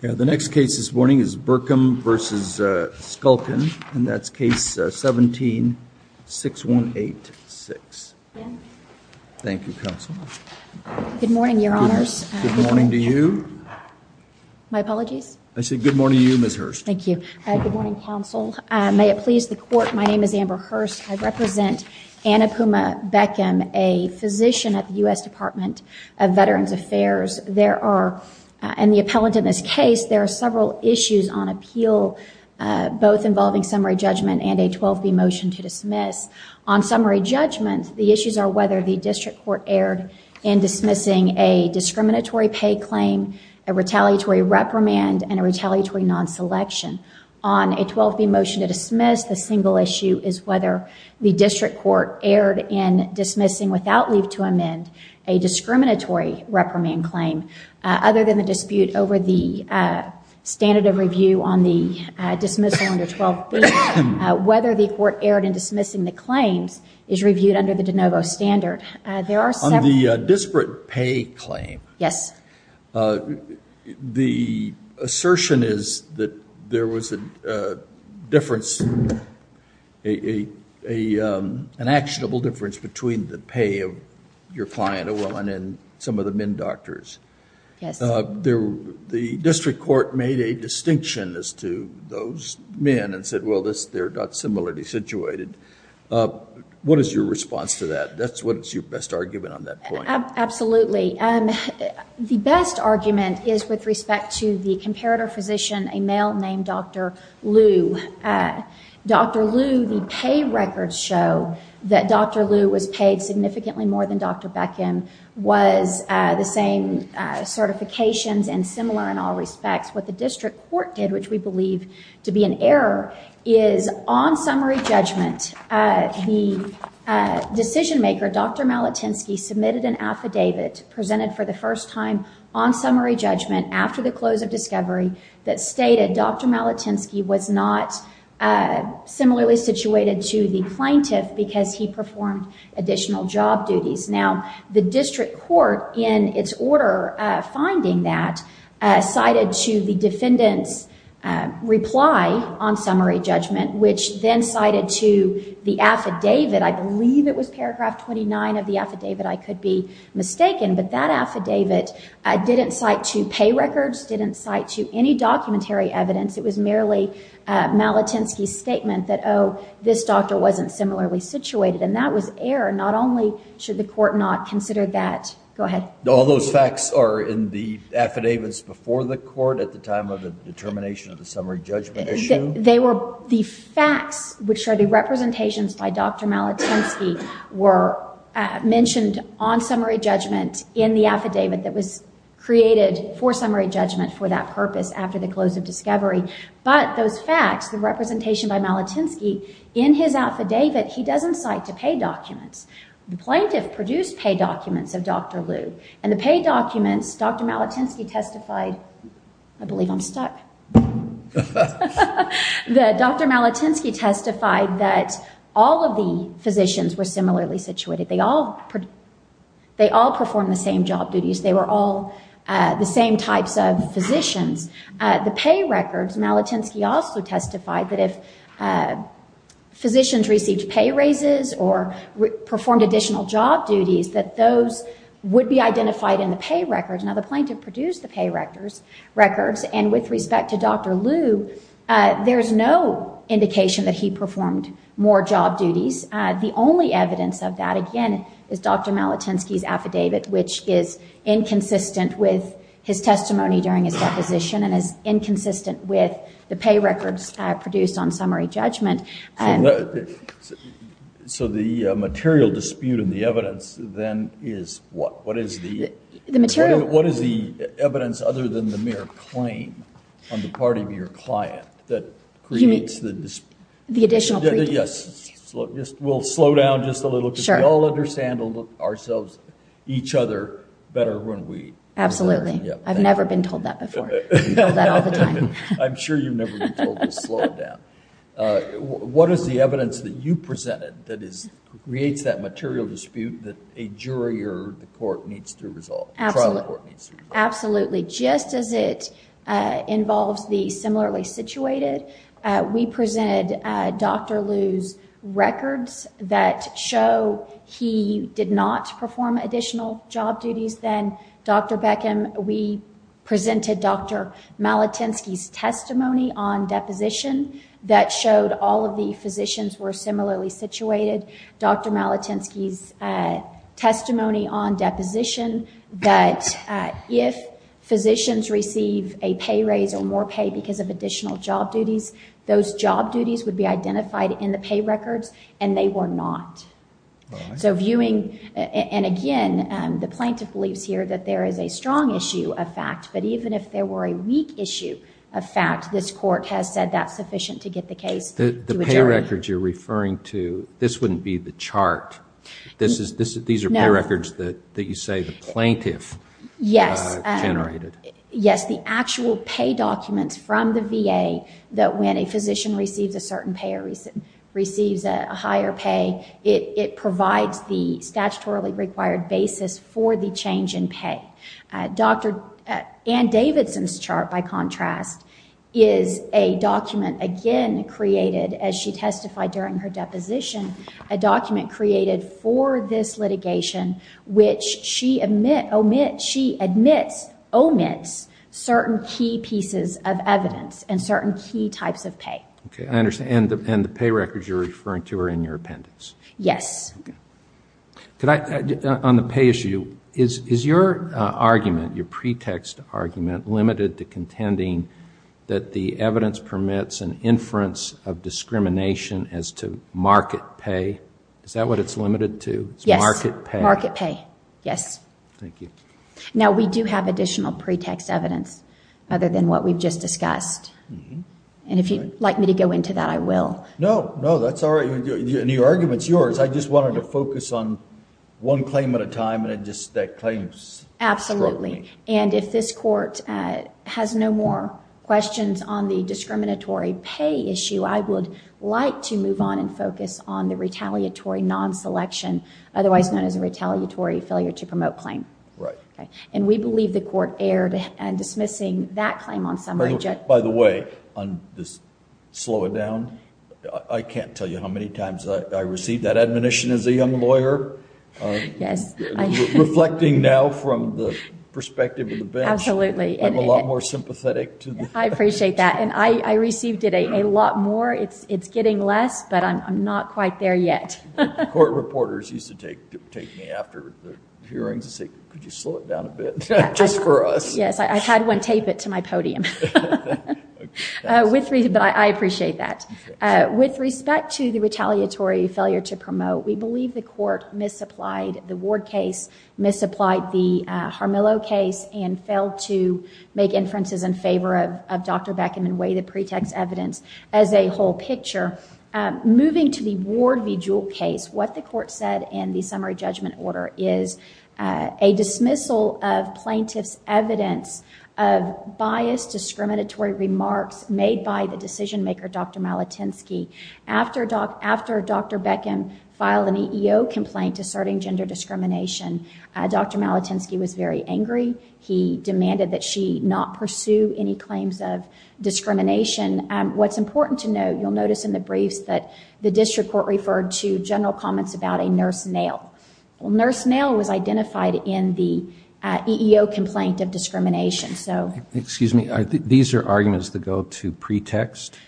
The next case this morning is Berkem v. Shulkin, and that's Case 17-6186. Thank you, Counsel. Good morning, Your Honors. Good morning to you. My apologies? I said good morning to you, Ms. Hurst. Thank you. Good morning, Counsel. May it please the Court, my name is Amber Hurst. I represent Anna Puma Bekkem, a physician at the U.S. Department of Veterans Affairs. There are, in the appellant in this case, there are several issues on appeal, both involving summary judgment and a 12b motion to dismiss. On summary judgment, the issues are whether the district court erred in dismissing a discriminatory pay claim, a retaliatory reprimand, and a retaliatory non-selection. On a 12b motion to dismiss, the single issue is whether the district court erred in dismissing, without leave to amend, a discriminatory reprimand claim. Other than the dispute over the standard of review on the dismissal under 12b, whether the court erred in dismissing the claims is reviewed under the de novo standard. On the disparate pay claim, the assertion is that there was a difference, an actionable difference between the pay of your client, a woman, and some of the men doctors. Yes. The district court made a distinction as to those men and said, well, they're not similarly situated. What is your response to that? What is your best argument on that point? Absolutely. The best argument is with respect to the comparator physician, a male named Dr. Lu. Dr. Lu, the pay records show that Dr. Lu was paid significantly more than Dr. Beckham, was the same certifications and similar in all respects. What the district court did, which we believe to be an error, is on summary judgment, the decision maker, Dr. Malatinsky, submitted an affidavit presented for the first time on summary judgment after the close of discovery that stated Dr. Malatinsky was not similarly situated to the plaintiff because he performed additional job duties. Now, the district court, in its order finding that, cited to the defendant's reply on summary judgment, which then cited to the affidavit, I believe it was paragraph 29 of the affidavit, I could be mistaken, but that affidavit didn't cite to pay records, didn't cite to any documentary evidence. It was merely Malatinsky's statement that, oh, this doctor wasn't similarly situated, and that was error. Not only should the court not consider that. Go ahead. All those facts are in the affidavits before the court at the time of the determination of the summary judgment issue? The facts, which are the representations by Dr. Malatinsky, were mentioned on summary judgment in the affidavit that was created for summary judgment for that purpose after the close of discovery, but those facts, the representation by Malatinsky in his affidavit, he doesn't cite to pay documents. The plaintiff produced pay documents of Dr. Liu, and the pay documents, Dr. Malatinsky testified, I believe I'm stuck, that Dr. Malatinsky testified that all of the physicians were similarly situated. They all performed the same job duties. They were all the same types of physicians. The pay records, Malatinsky also testified that if physicians received pay raises or performed additional job duties, that those would be identified in the pay records. Now, the plaintiff produced the pay records, and with respect to Dr. Liu, there's no indication that he performed more job duties. The only evidence of that, again, is Dr. Malatinsky's affidavit, which is inconsistent with his testimony during his deposition and is inconsistent with the pay records produced on summary judgment. So the material dispute in the evidence, then, is what? What is the evidence other than the mere claim on the part of your client that creates the dispute? The additional pre-duty. Yes. We'll slow down just a little bit. Sure. We all understand ourselves, each other, better when we... Absolutely. I've never been told that before. I'm sure you've never been told to slow down. What is the evidence that you presented that creates that material dispute that a jury or the court needs to resolve? Absolutely. Just as it involves the similarly situated, we presented Dr. Liu's records that show he did not perform additional job duties. Then, Dr. Beckham, we presented Dr. Malatinsky's testimony on deposition that showed all of the physicians were similarly situated. Dr. Malatinsky's testimony on deposition that if physicians receive a pay raise or more pay because of additional job duties, those job duties would be identified in the pay records, and they were not. Again, the plaintiff believes here that there is a strong issue of fact, but even if there were a weak issue of fact, this court has said that's sufficient to get the case to a jury. The pay records you're referring to, this wouldn't be the chart. These are pay records that you say the plaintiff generated. Yes. The actual pay documents from the VA that when a physician receives a certain pay or receives a higher pay, it provides the statutorily required basis for the change in pay. Dr. Ann Davidson's chart, by contrast, is a document, again, created, as she testified during her deposition, a document created for this litigation which she admits omits certain key pieces of evidence and certain key types of pay. I understand, and the pay records you're referring to are in your appendix. Yes. On the pay issue, is your argument, your pretext argument, limited to contending that the evidence permits an inference of discrimination as to market pay? Is that what it's limited to? Yes. Market pay. Yes. Thank you. Now, we do have additional pretext evidence other than what we've just discussed. If you'd like me to go into that, I will. No, that's all right. The argument's yours. I just wanted to focus on one claim at a time, and that claim struck me. Absolutely. If this court has no more questions on the discriminatory pay issue, I would like to move on and focus on the retaliatory non-selection, otherwise known as a retaliatory failure to promote claim. We believe the court erred in dismissing that claim on summary judgment. By the way, on this slow it down, I can't tell you how many times I received that admonition as a young lawyer. Yes. Reflecting now from the perspective of the bench, I'm a lot more sympathetic. I appreciate that, and I received it a lot more. It's getting less, but I'm not quite there yet. Court reporters used to take me after hearings and say, could you slow it down a bit, just for us? Yes, I've had one tape it to my podium. But I appreciate that. With respect to the retaliatory failure to promote, we believe the court misapplied the Ward case, misapplied the Harmillo case, and failed to make inferences in favor of Dr. Beckman and weigh the pretext evidence as a whole picture. Moving to the Ward v. Jewell case, what the court said in the summary judgment order is a dismissal of plaintiffs' evidence of biased, discriminatory remarks made by the decision maker, Dr. Malatinsky. After Dr. Beckman filed an EEO complaint asserting gender discrimination, Dr. Malatinsky was very angry. He demanded that she not pursue any claims of discrimination. What's important to note, you'll notice in the briefs, that the district court referred to general comments about a nurse nail. A nurse nail was identified in the EEO complaint of discrimination. Excuse me, these are arguments that go to pretext?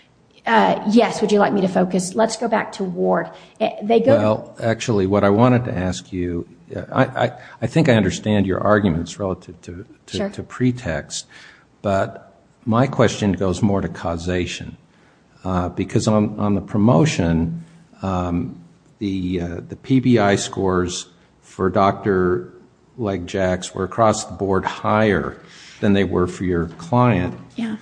Yes, would you like me to focus? Let's go back to Ward. Actually, what I wanted to ask you, I think I understand your arguments relative to pretext, but my question goes more to causation. Because on the promotion, the PBI scores for Dr. Legjack's were across the board higher than they were for your client,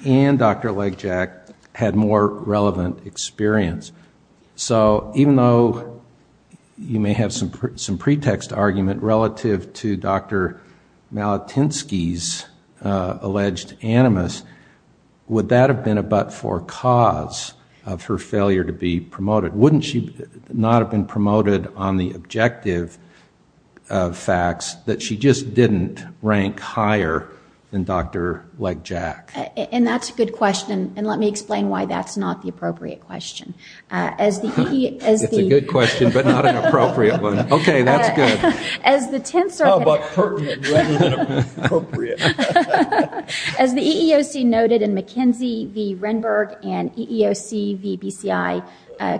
and Dr. Legjack had more relevant experience. So even though you may have some pretext argument relative to Dr. Malatinsky's alleged animus, would that have been a but-for cause of her failure to be promoted? Wouldn't she not have been promoted on the objective facts that she just didn't rank higher than Dr. Legjack? And that's a good question, and let me explain why that's not the appropriate question. It's a good question, but not an appropriate one. Okay, that's good. Oh, but pertinent rather than appropriate. As the EEOC noted in McKenzie v. Renberg and EEOC v. BCI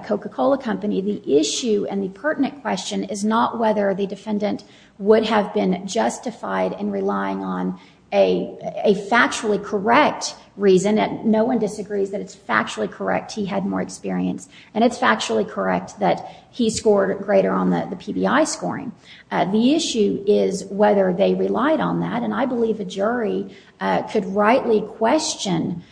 Coca-Cola Company, the issue and the pertinent question is not whether the defendant would have been justified in relying on a factually correct reason. No one disagrees that it's factually correct he had more experience, and it's factually correct that he scored greater on the PBI scoring. The issue is whether they relied on that, and I believe a jury could rightly question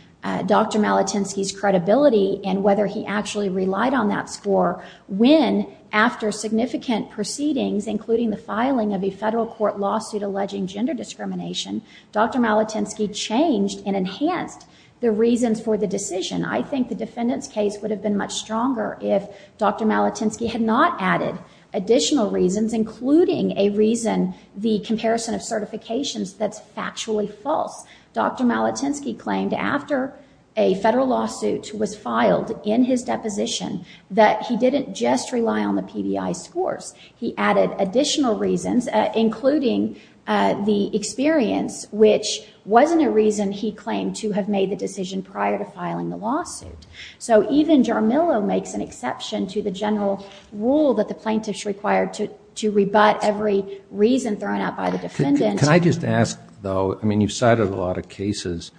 Dr. Malatinsky's credibility and whether he actually relied on that score when, after significant proceedings, including the filing of a federal court lawsuit alleging gender discrimination, Dr. Malatinsky changed and enhanced the reasons for the decision. I think the defendant's case would have been much stronger if Dr. Malatinsky had not added additional reasons, including a reason the comparison of certifications that's factually false. Dr. Malatinsky claimed after a federal lawsuit was filed in his deposition that he didn't just rely on the PBI scores. He added additional reasons, including the experience, which wasn't a reason he claimed to have made the decision prior to filing the lawsuit. So even Jarmillo makes an exception to the general rule that the plaintiff's required to rebut every reason thrown out by the defendant. Can I just ask, though? I mean, you've cited a lot of cases,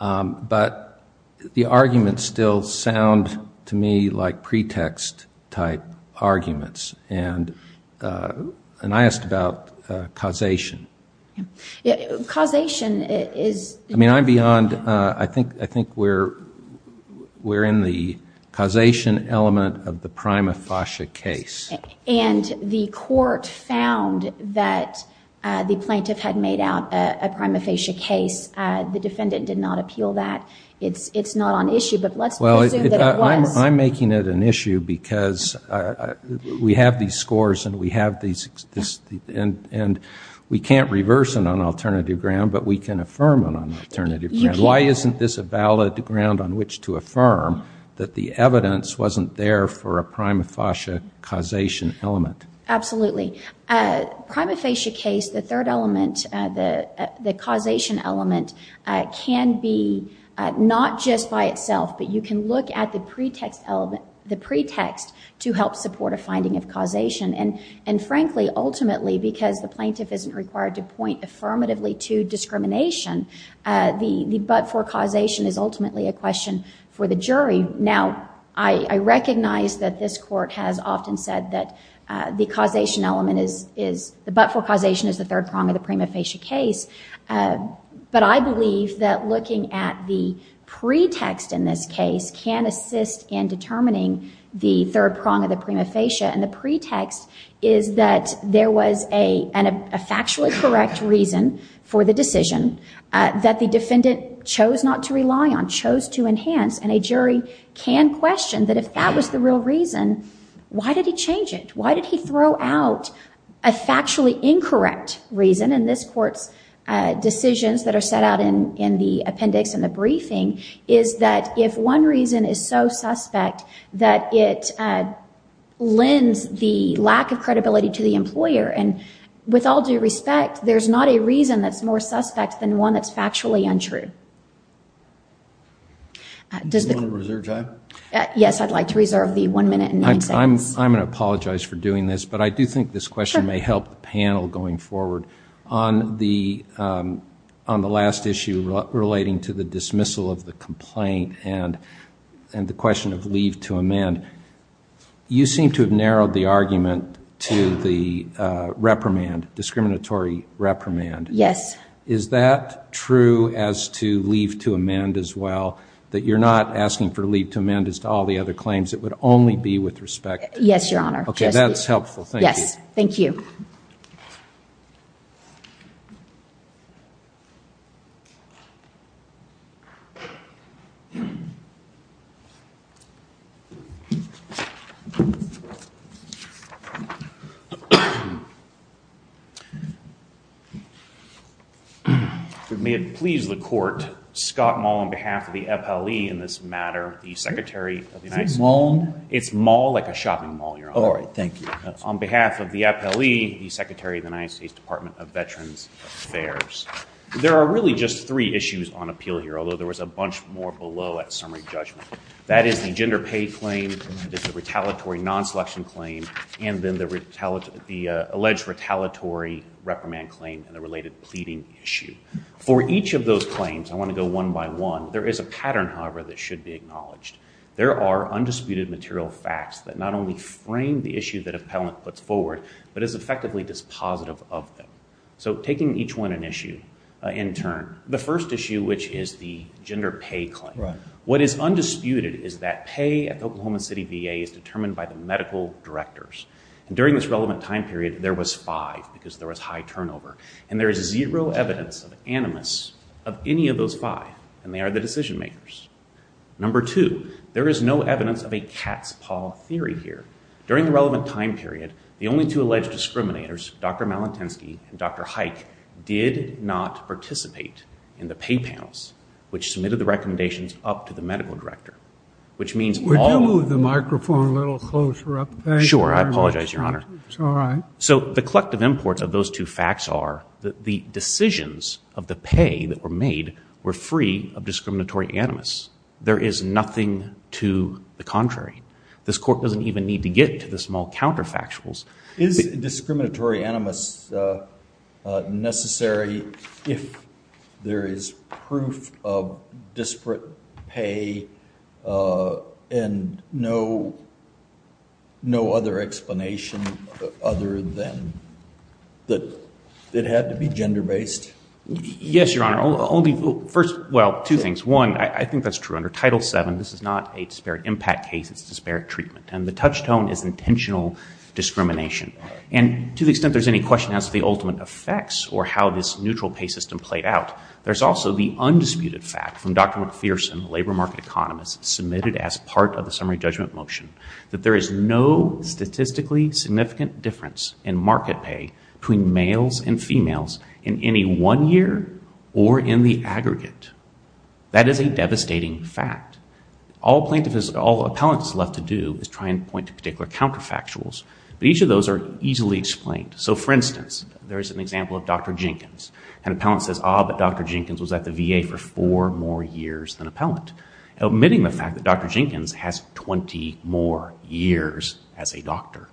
but the arguments still sound to me like pretext-type arguments, and I asked about causation. Causation is... I mean, I'm beyond... I think we're in the causation element of the prima facie case. And the court found that the plaintiff had made out a prima facie case. The defendant did not appeal that. It's not on issue, but let's assume that it was. I'm making it an issue because we have these scores and we have these... We can't reverse it on alternative ground, but we can affirm it on alternative ground. Why isn't this a valid ground on which to affirm that the evidence wasn't there for a prima facie causation element? Absolutely. Prima facie case, the third element, the causation element, can be not just by itself, but you can look at the pretext to help support a finding of causation. And frankly, ultimately, because the plaintiff isn't required to point affirmatively to discrimination, the but-for causation is ultimately a question for the jury. Now, I recognize that this court has often said that the causation element is... The but-for causation is the third prong of the prima facie case, but I believe that looking at the pretext in this case can assist in determining the third prong of the prima facie, and the pretext is that there was a factually correct reason for the decision that the defendant chose not to rely on, chose to enhance, and a jury can question that if that was the real reason, why did he change it? Why did he throw out a factually incorrect reason? And this court's decisions that are set out in the appendix in the briefing is that if one reason is so suspect that it lends the lack of credibility to the employer, and with all due respect, there's not a reason that's more suspect than one that's factually untrue. Do you want to reserve time? Yes, I'd like to reserve the one minute and nine seconds. I'm going to apologize for doing this, but I do think this question may help the panel going forward. On the last issue relating to the dismissal of the complaint and the question of leave to amend, you seem to have narrowed the argument to the reprimand, discriminatory reprimand. Yes. Is that true as to leave to amend as well, that you're not asking for leave to amend as to all the other claims? It would only be with respect. Yes, Your Honor. Okay, that's helpful. Yes. Thank you. May it please the Court, Scott Mull on behalf of the FLE in this matter, the Secretary of the United States. Mull? It's Mull, like a shopping mall, Your Honor. All right. Thank you. On behalf of the FLE, the Secretary of the United States Department of Veterans Affairs. There are really just three issues on appeal here, although there was a bunch more below, and I'm not going to go through them all. That is the gender pay claim, the retaliatory non-selection claim, and then the alleged retaliatory reprimand claim and the related pleading issue. For each of those claims, I want to go one by one. There is a pattern, however, that should be acknowledged. There are undisputed material facts that not only frame the issue that appellant puts forward, but is effectively dispositive of them. So taking each one an issue in turn, the first issue, which is the gender pay claim, what is undisputed is that pay at the Oklahoma City VA is determined by the medical directors. During this relevant time period, there was five because there was high turnover, and there is zero evidence of animus of any of those five, and they are the decision-makers. Number two, there is no evidence of a cat's paw theory here. During the relevant time period, the only two alleged discriminators, Dr. Malintensky and Dr. Haik, did not participate in the pay panels, which submitted the recommendations up to the medical director, which means all... Would you move the microphone a little closer up? Sure. I apologize, Your Honor. It's all right. So the collective imports of those two facts are that the decisions of the pay that were made were free of discriminatory animus. There is nothing to the contrary. This Court doesn't even need to get to the small counterfactuals. Is discriminatory animus necessary if there is proof of disparate pay and no other explanation other than that it had to be gender-based? Yes, Your Honor. First, well, two things. One, I think that's true. Under Title VII, this is not a disparate impact case. It's disparate treatment, and the touchstone is intentional discrimination. And to the extent there's any question as to the ultimate effects or how this neutral pay system played out, there's also the undisputed fact from Dr. McPherson, labor market economist, submitted as part of the summary judgment motion that there is no statistically significant difference in market pay between males and females in any one year or in the aggregate. That is a devastating fact. All plaintiffs... All appellants are left to do is try and point to particular counterfactuals, but each of those are easily explained. So, for instance, there is an example of Dr. Jenkins. An appellant says, Ah, but Dr. Jenkins was at the VA for four more years than an appellant. Omitting the fact that Dr. Jenkins has 20 more years as a doctor,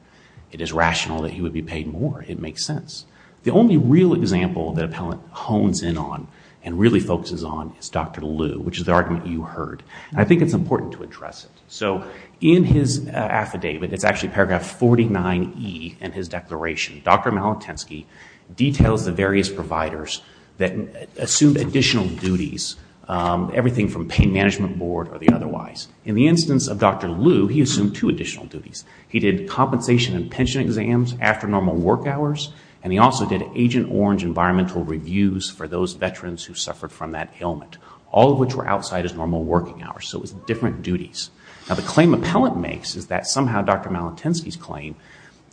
it is rational that he would be paid more. It makes sense. The only real example that an appellant hones in on and really focuses on is Dr. Liu, which is the argument you heard, and I think it's important to address it. So in his affidavit, it's actually paragraph 49E in his declaration, Dr. Malatensky details the various providers that assumed additional duties, everything from pain management board or the otherwise. In the instance of Dr. Liu, he assumed two additional duties. He did compensation and pension exams after normal work hours, and he also did Agent Orange environmental reviews for those veterans who suffered from that ailment, all of which were outside his normal working hours. So it was different duties. Now the claim appellant makes is that somehow Dr. Malatensky's claim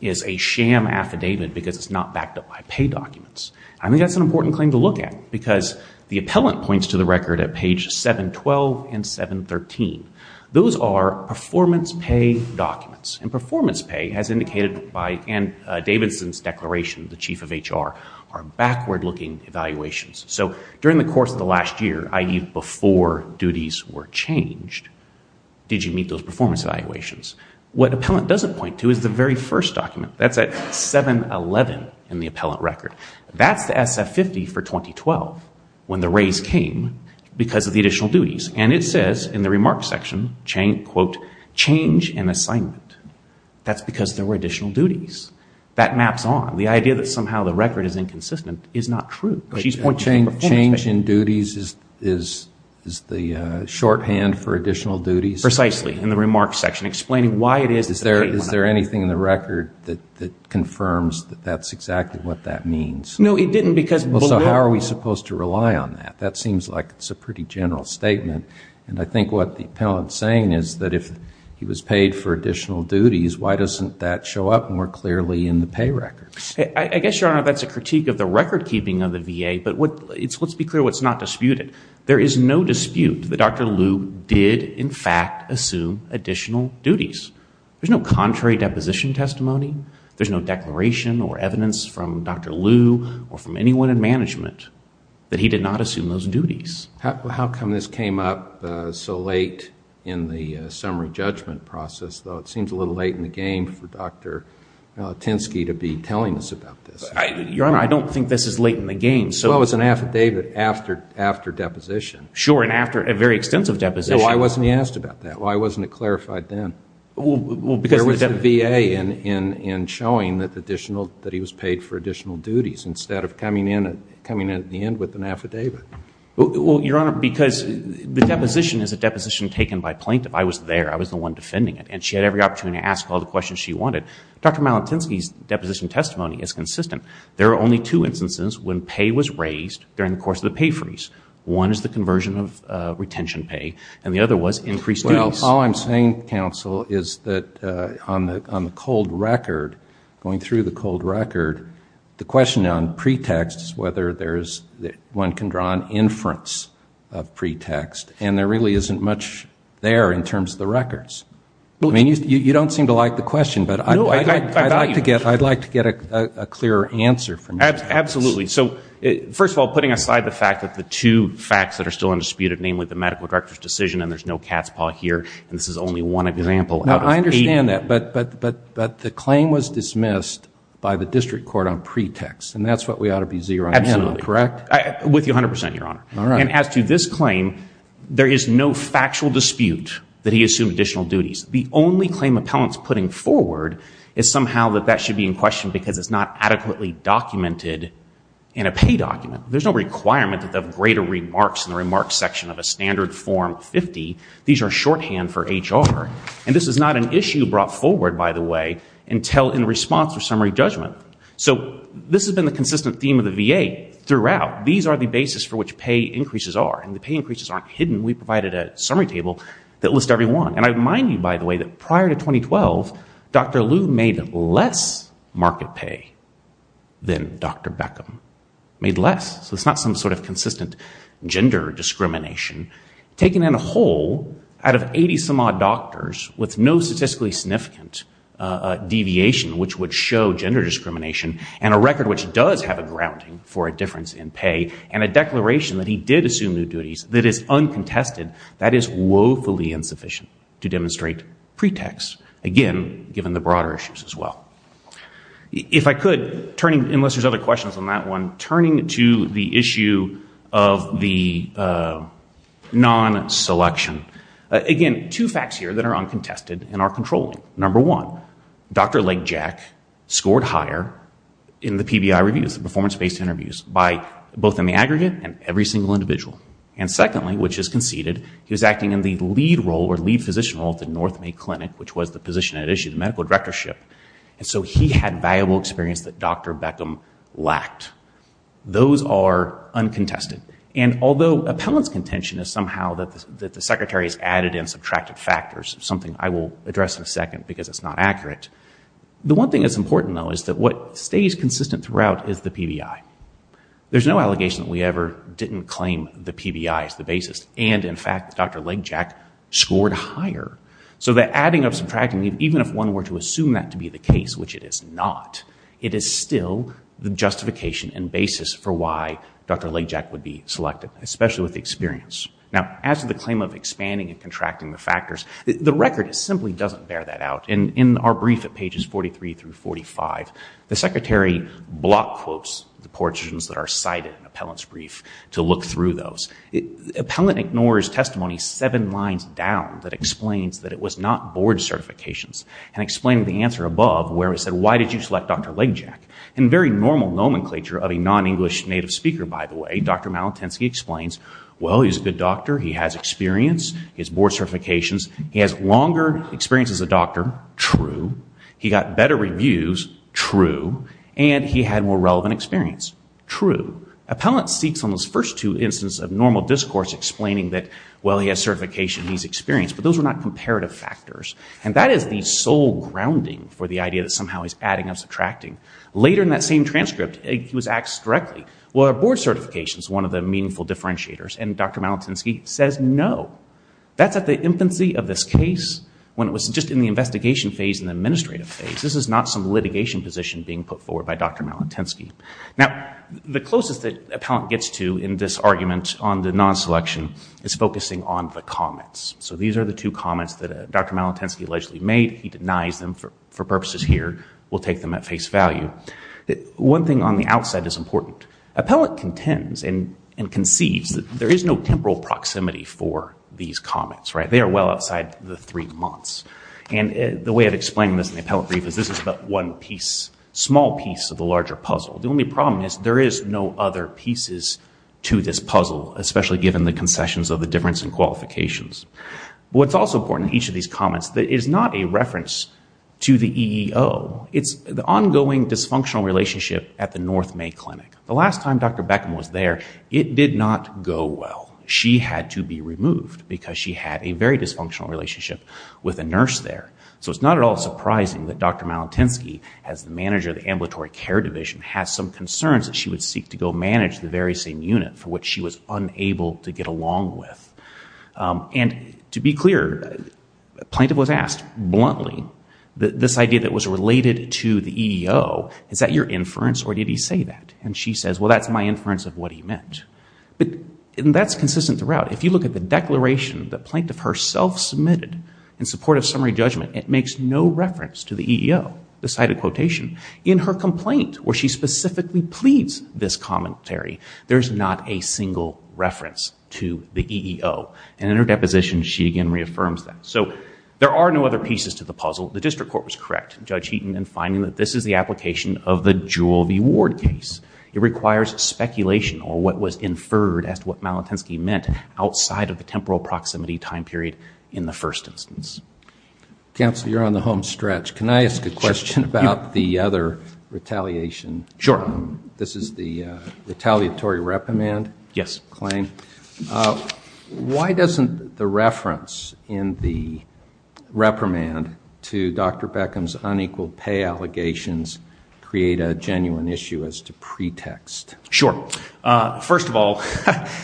is a sham affidavit because it's not backed up by pay documents. I think that's an important claim to look at because the appellant points to the record at page 712 and 713. Those are performance pay documents, and performance pay, as indicated by Ann Davidson's declaration, the chief of HR, are backward-looking evaluations. So during the course of the last year, i.e. before duties were changed, did you meet those performance evaluations? What appellant doesn't point to is the very first document. That's at 711 in the appellant record. That's the SF50 for 2012, when the raise came because of the additional duties. And it says in the remarks section, quote, change in assignment. That's because there were additional duties. That maps on. The idea that somehow the record is inconsistent is not true. Change in duties is the shorthand for additional duties? Precisely, in the remarks section, explaining why it is. Is there anything in the record that confirms that that's exactly what that means? No, it didn't because... So how are we supposed to rely on that? That seems like it's a pretty general statement. And I think what the appellant's saying is that if he was paid for additional duties, why doesn't that show up more clearly in the pay record? I guess, Your Honor, that's a critique of the record-keeping of the VA, but let's be clear what's not disputed. There is no dispute that Dr. Lew did, in fact, assume additional duties. There's no contrary deposition testimony. There's no declaration or evidence from Dr. Lew or from anyone in management that he did not assume those duties. How come this came up so late in the summary judgment process, though? It seems a little late in the game for Dr. Tinsky to be telling us about this. Your Honor, I don't think this is late in the game. Well, it was an affidavit after deposition. Sure, and after a very extensive deposition. Why wasn't he asked about that? Why wasn't it clarified then? Well, because... There was the VA in showing that additional... that he was paid for additional duties instead of coming in at the end with an affidavit. Well, Your Honor, because the deposition is a deposition taken by plaintiff. I was there. I was the one defending it, and she had every opportunity to ask all the questions she wanted. Dr. Malatinsky's deposition testimony is consistent. There are only two instances when pay was raised during the course of the pay freeze. One is the conversion of retention pay, and the other was increased duties. Well, all I'm saying, counsel, is that on the cold record, going through the cold record, the question on pretexts, whether one can draw an inference of pretext, and there really isn't much there in terms of the records. I mean, you don't seem to like the question, but I'd like to get a clearer answer from you. Absolutely. So, first of all, putting aside the fact that the two facts that are still undisputed, namely the medical director's decision, and there's no cat's paw here, and this is only one example out of eight... No, I understand that, but the claim was dismissed by the district court on pretext, and that's what we ought to be zeroing in on, correct? Absolutely. With you 100%, Your Honor. All right. And as to this claim, there is no factual dispute that he assumed additional duties. The only claim appellant's putting forward is somehow that that should be in question because it's not adequately documented in a pay document. There's no requirement that they have greater remarks in the remarks section of a standard form 50. These are shorthand for HR, and this is not an issue brought forward, by the way, until in response to summary judgment. So this has been the consistent theme of the VA throughout. These are the basis for which pay increases are, and the pay increases aren't hidden. We provided a summary table that lists every one. And I remind you, by the way, that prior to 2012, Dr. Liu made less market pay than Dr. Beckham. Made less. So it's not some sort of consistent gender discrimination. Taken in whole, out of 80-some-odd doctors with no statistically significant deviation which would show gender discrimination and a record which does have a grounding for a difference in pay and a declaration that he did assume new duties that is uncontested, that is woefully insufficient to demonstrate pretext. Again, given the broader issues as well. If I could, unless there's other questions on that one, turning to the issue of the non-selection. Again, two facts here that are uncontested and are controlling. Number one, Dr. Lake Jack scored higher in the PBI reviews, the performance-based interviews, both in the aggregate and every single individual. And secondly, which is conceded, he was acting in the lead role or lead physician role at the North May Clinic, which was the position at issue, the medical directorship. And so he had valuable experience that Dr. Beckham lacked. Those are uncontested. And although appellant's contention is somehow that the secretary has added and subtracted factors, something I will address in a second because it's not accurate, the one thing that's important, though, is that what stays consistent throughout is the PBI. There's no allegation that we ever didn't claim the PBI as the basis. And, in fact, Dr. Lake Jack scored higher. So the adding of, subtracting, even if one were to assume that to be the case, which it is not, it is still the justification and basis for why Dr. Lake Jack would be selected, especially with the experience. Now, as to the claim of expanding and contracting the factors, the record simply doesn't bear that out. In our brief at pages 43 through 45, the secretary block quotes the portions that are cited in appellant's brief to look through those. Appellant ignores testimony seven lines down that explains that it was not board certifications and explained the answer above, where it said, why did you select Dr. Lake Jack? In very normal nomenclature of a non-English native speaker, by the way, Dr. Malatensky explains, well, he's a good doctor. He has experience. He has board certifications. He has longer experience as a doctor. True. He got better reviews. True. And he had more relevant experience. True. Appellant seeks on those first two instances of normal discourse explaining that, well, he has certification. He's experienced. But those are not comparative factors. And that is the sole grounding for the idea that somehow he's adding and subtracting. Later in that same transcript, he was asked directly, well, are board certifications one of the meaningful differentiators? And Dr. Malatensky says no. That's at the infancy of this case when it was just in the investigation phase and the administrative phase. This is not some litigation position being put forward by Dr. Malatensky. Now, the closest that appellant gets to in this argument on the non-selection is focusing on the comments. So these are the two comments that Dr. Malatensky allegedly made. He denies them for purposes here. We'll take them at face value. One thing on the outside is important. Appellant contends and conceives that there is no temporal proximity for these comments. They are well outside the three months. And the way of explaining this in the appellant brief is this is but one piece, small piece of the larger puzzle. The only problem is there is no other pieces to this puzzle, especially given the concessions of the difference in qualifications. What's also important in each of these comments is that it is not a reference to the EEO. It's the ongoing dysfunctional relationship at the North May Clinic. The last time Dr. Beckham was there, it did not go well. She had to be removed because she had a very dysfunctional relationship with a nurse there. So it's not at all surprising that Dr. Malatensky, as the manager of the ambulatory care division, has some concerns that she would seek to go manage the very same unit for which she was unable to get along with. And to be clear, a plaintiff was asked, bluntly, this idea that was related to the EEO, is that your inference or did he say that? And she says, well, that's my inference of what he meant. And that's consistent throughout. If you look at the declaration the plaintiff herself submitted in support of summary judgment, it makes no reference to the EEO, the cited quotation. In her complaint, where she specifically pleads this commentary, there's not a single reference to the EEO. And in her deposition, she again reaffirms that. So there are no other pieces to the puzzle. The district court was correct, Judge Heaton, in finding that this is the application of the Jewel v. Ward case. It requires speculation on what was inferred as to what Malatensky meant outside of the temporal proximity time period in the first instance. Counsel, you're on the home stretch. Can I ask a question about the other retaliation? Sure. This is the retaliatory reprimand claim. Yes. Why doesn't the reference in the reprimand to Dr. Beckham's unequal pay allegations create a genuine issue as to pretext? Sure. First of all,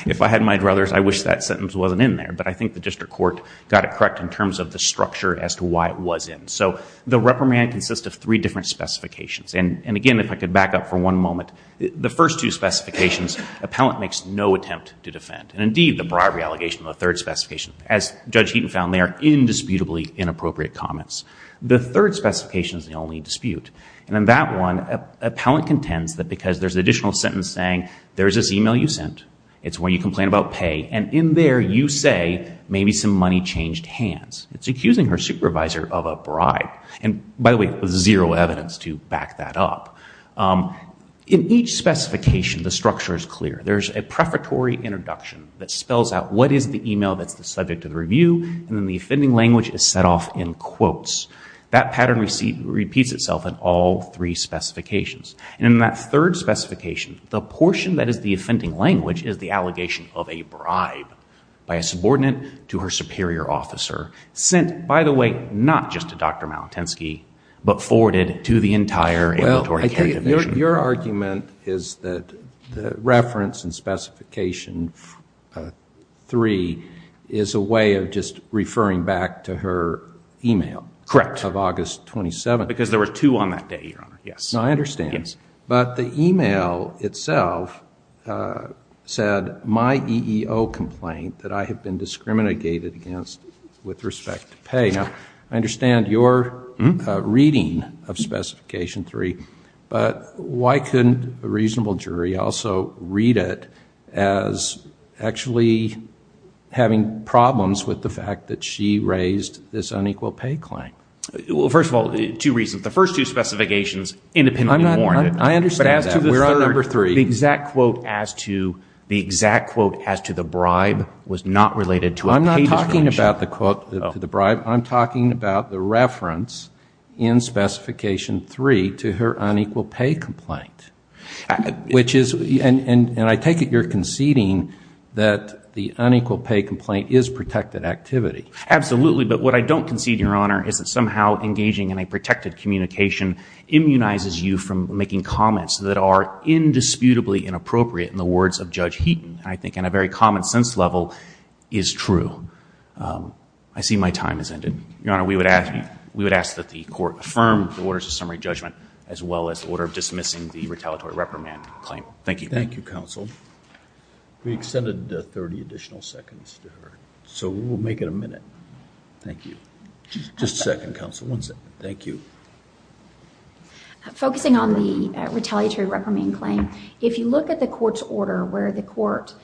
if I had my druthers, I wish that sentence wasn't in there. But I think the district court got it correct in terms of the structure as to why it was in. So the reprimand consists of three different specifications. And again, if I could back up for one moment, the first two specifications, appellant makes no attempt to defend. And indeed, the bribery allegation in the third specification, as Judge Heaton found there, indisputably inappropriate comments. The third specification is the only dispute. And in that one, appellant contends that because there's additional sentence saying there's this e-mail you sent, it's where you complain about pay, and in there you say maybe some money changed hands. It's accusing her supervisor of a bribe. And by the way, there's zero evidence to back that up. In each specification, the structure is clear. There's a prefatory introduction that spells out what is the e-mail that's the subject of the review, and then the offending language is set off in quotes. That pattern repeats itself in all three specifications. And in that third specification, the portion that is the offending language is the allegation of a bribe by a subordinate to her superior officer, sent, by the way, not just to Dr. Malatensky, but forwarded to the entire Inventory Care Division. Your argument is that the reference in specification 3 is a way of just referring back to her e-mail of August 27th. Because there were two on that day, Your Honor. I understand. But the e-mail itself said, my EEO complaint that I have been discriminated against with respect to pay. Now, I understand your reading of specification 3, but why couldn't a reasonable jury also read it as actually having problems with the fact that she raised this unequal pay claim? Well, first of all, two reasons. The first two specifications independently warrant it. I understand that. But as to the third, the exact quote as to the bribe was not related to a pay discrimination. I'm not talking about the quote to the bribe. I'm talking about the reference in specification 3 to her unequal pay complaint. And I take it you're conceding that the unequal pay complaint is protected activity. Absolutely. But what I don't concede, Your Honor, is that somehow engaging in a protected communication immunizes you from making comments that are indisputably inappropriate in the words of Judge Heaton. And I think in a very common sense level, is true. I see my time has ended. Your Honor, we would ask that the court affirm the orders of summary judgment, as well as the order of dismissing the retaliatory reprimand claim. Thank you. Thank you, counsel. We extended 30 additional seconds to her. So we'll make it a minute. Thank you. Just a second, counsel. One second. Thank you. Focusing on the retaliatory reprimand claim, if you look at the court's order, where the court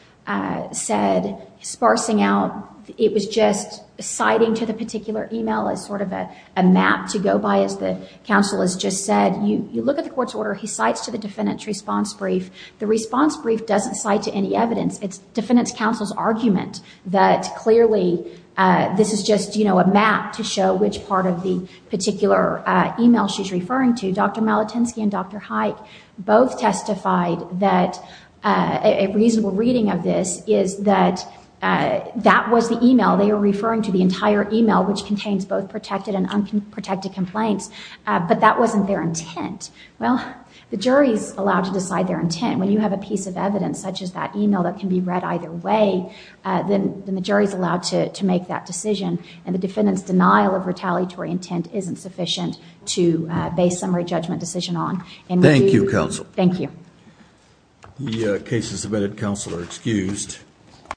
said, sparsing out, it was just citing to the particular email as sort of a map to go by, as the counsel has just said. You look at the court's order. He cites to the defendant's response brief. The response brief doesn't cite to any evidence. It's defendant's counsel's argument that, clearly, this is just a map to show which part of the particular email she's referring to. Dr. Malatinsky and Dr. Haik both testified that a reasonable reading of this is that that was the email they were referring to, the entire email, which contains both protected and unprotected complaints. But that wasn't their intent. Well, the jury is allowed to decide their intent. When you have a piece of evidence, such as that email, that can be read either way, then the jury is allowed to make that decision. And the defendant's denial of retaliatory intent isn't sufficient to base summary judgment decision on. Thank you, counsel. Thank you. The case is submitted. Counsel are excused.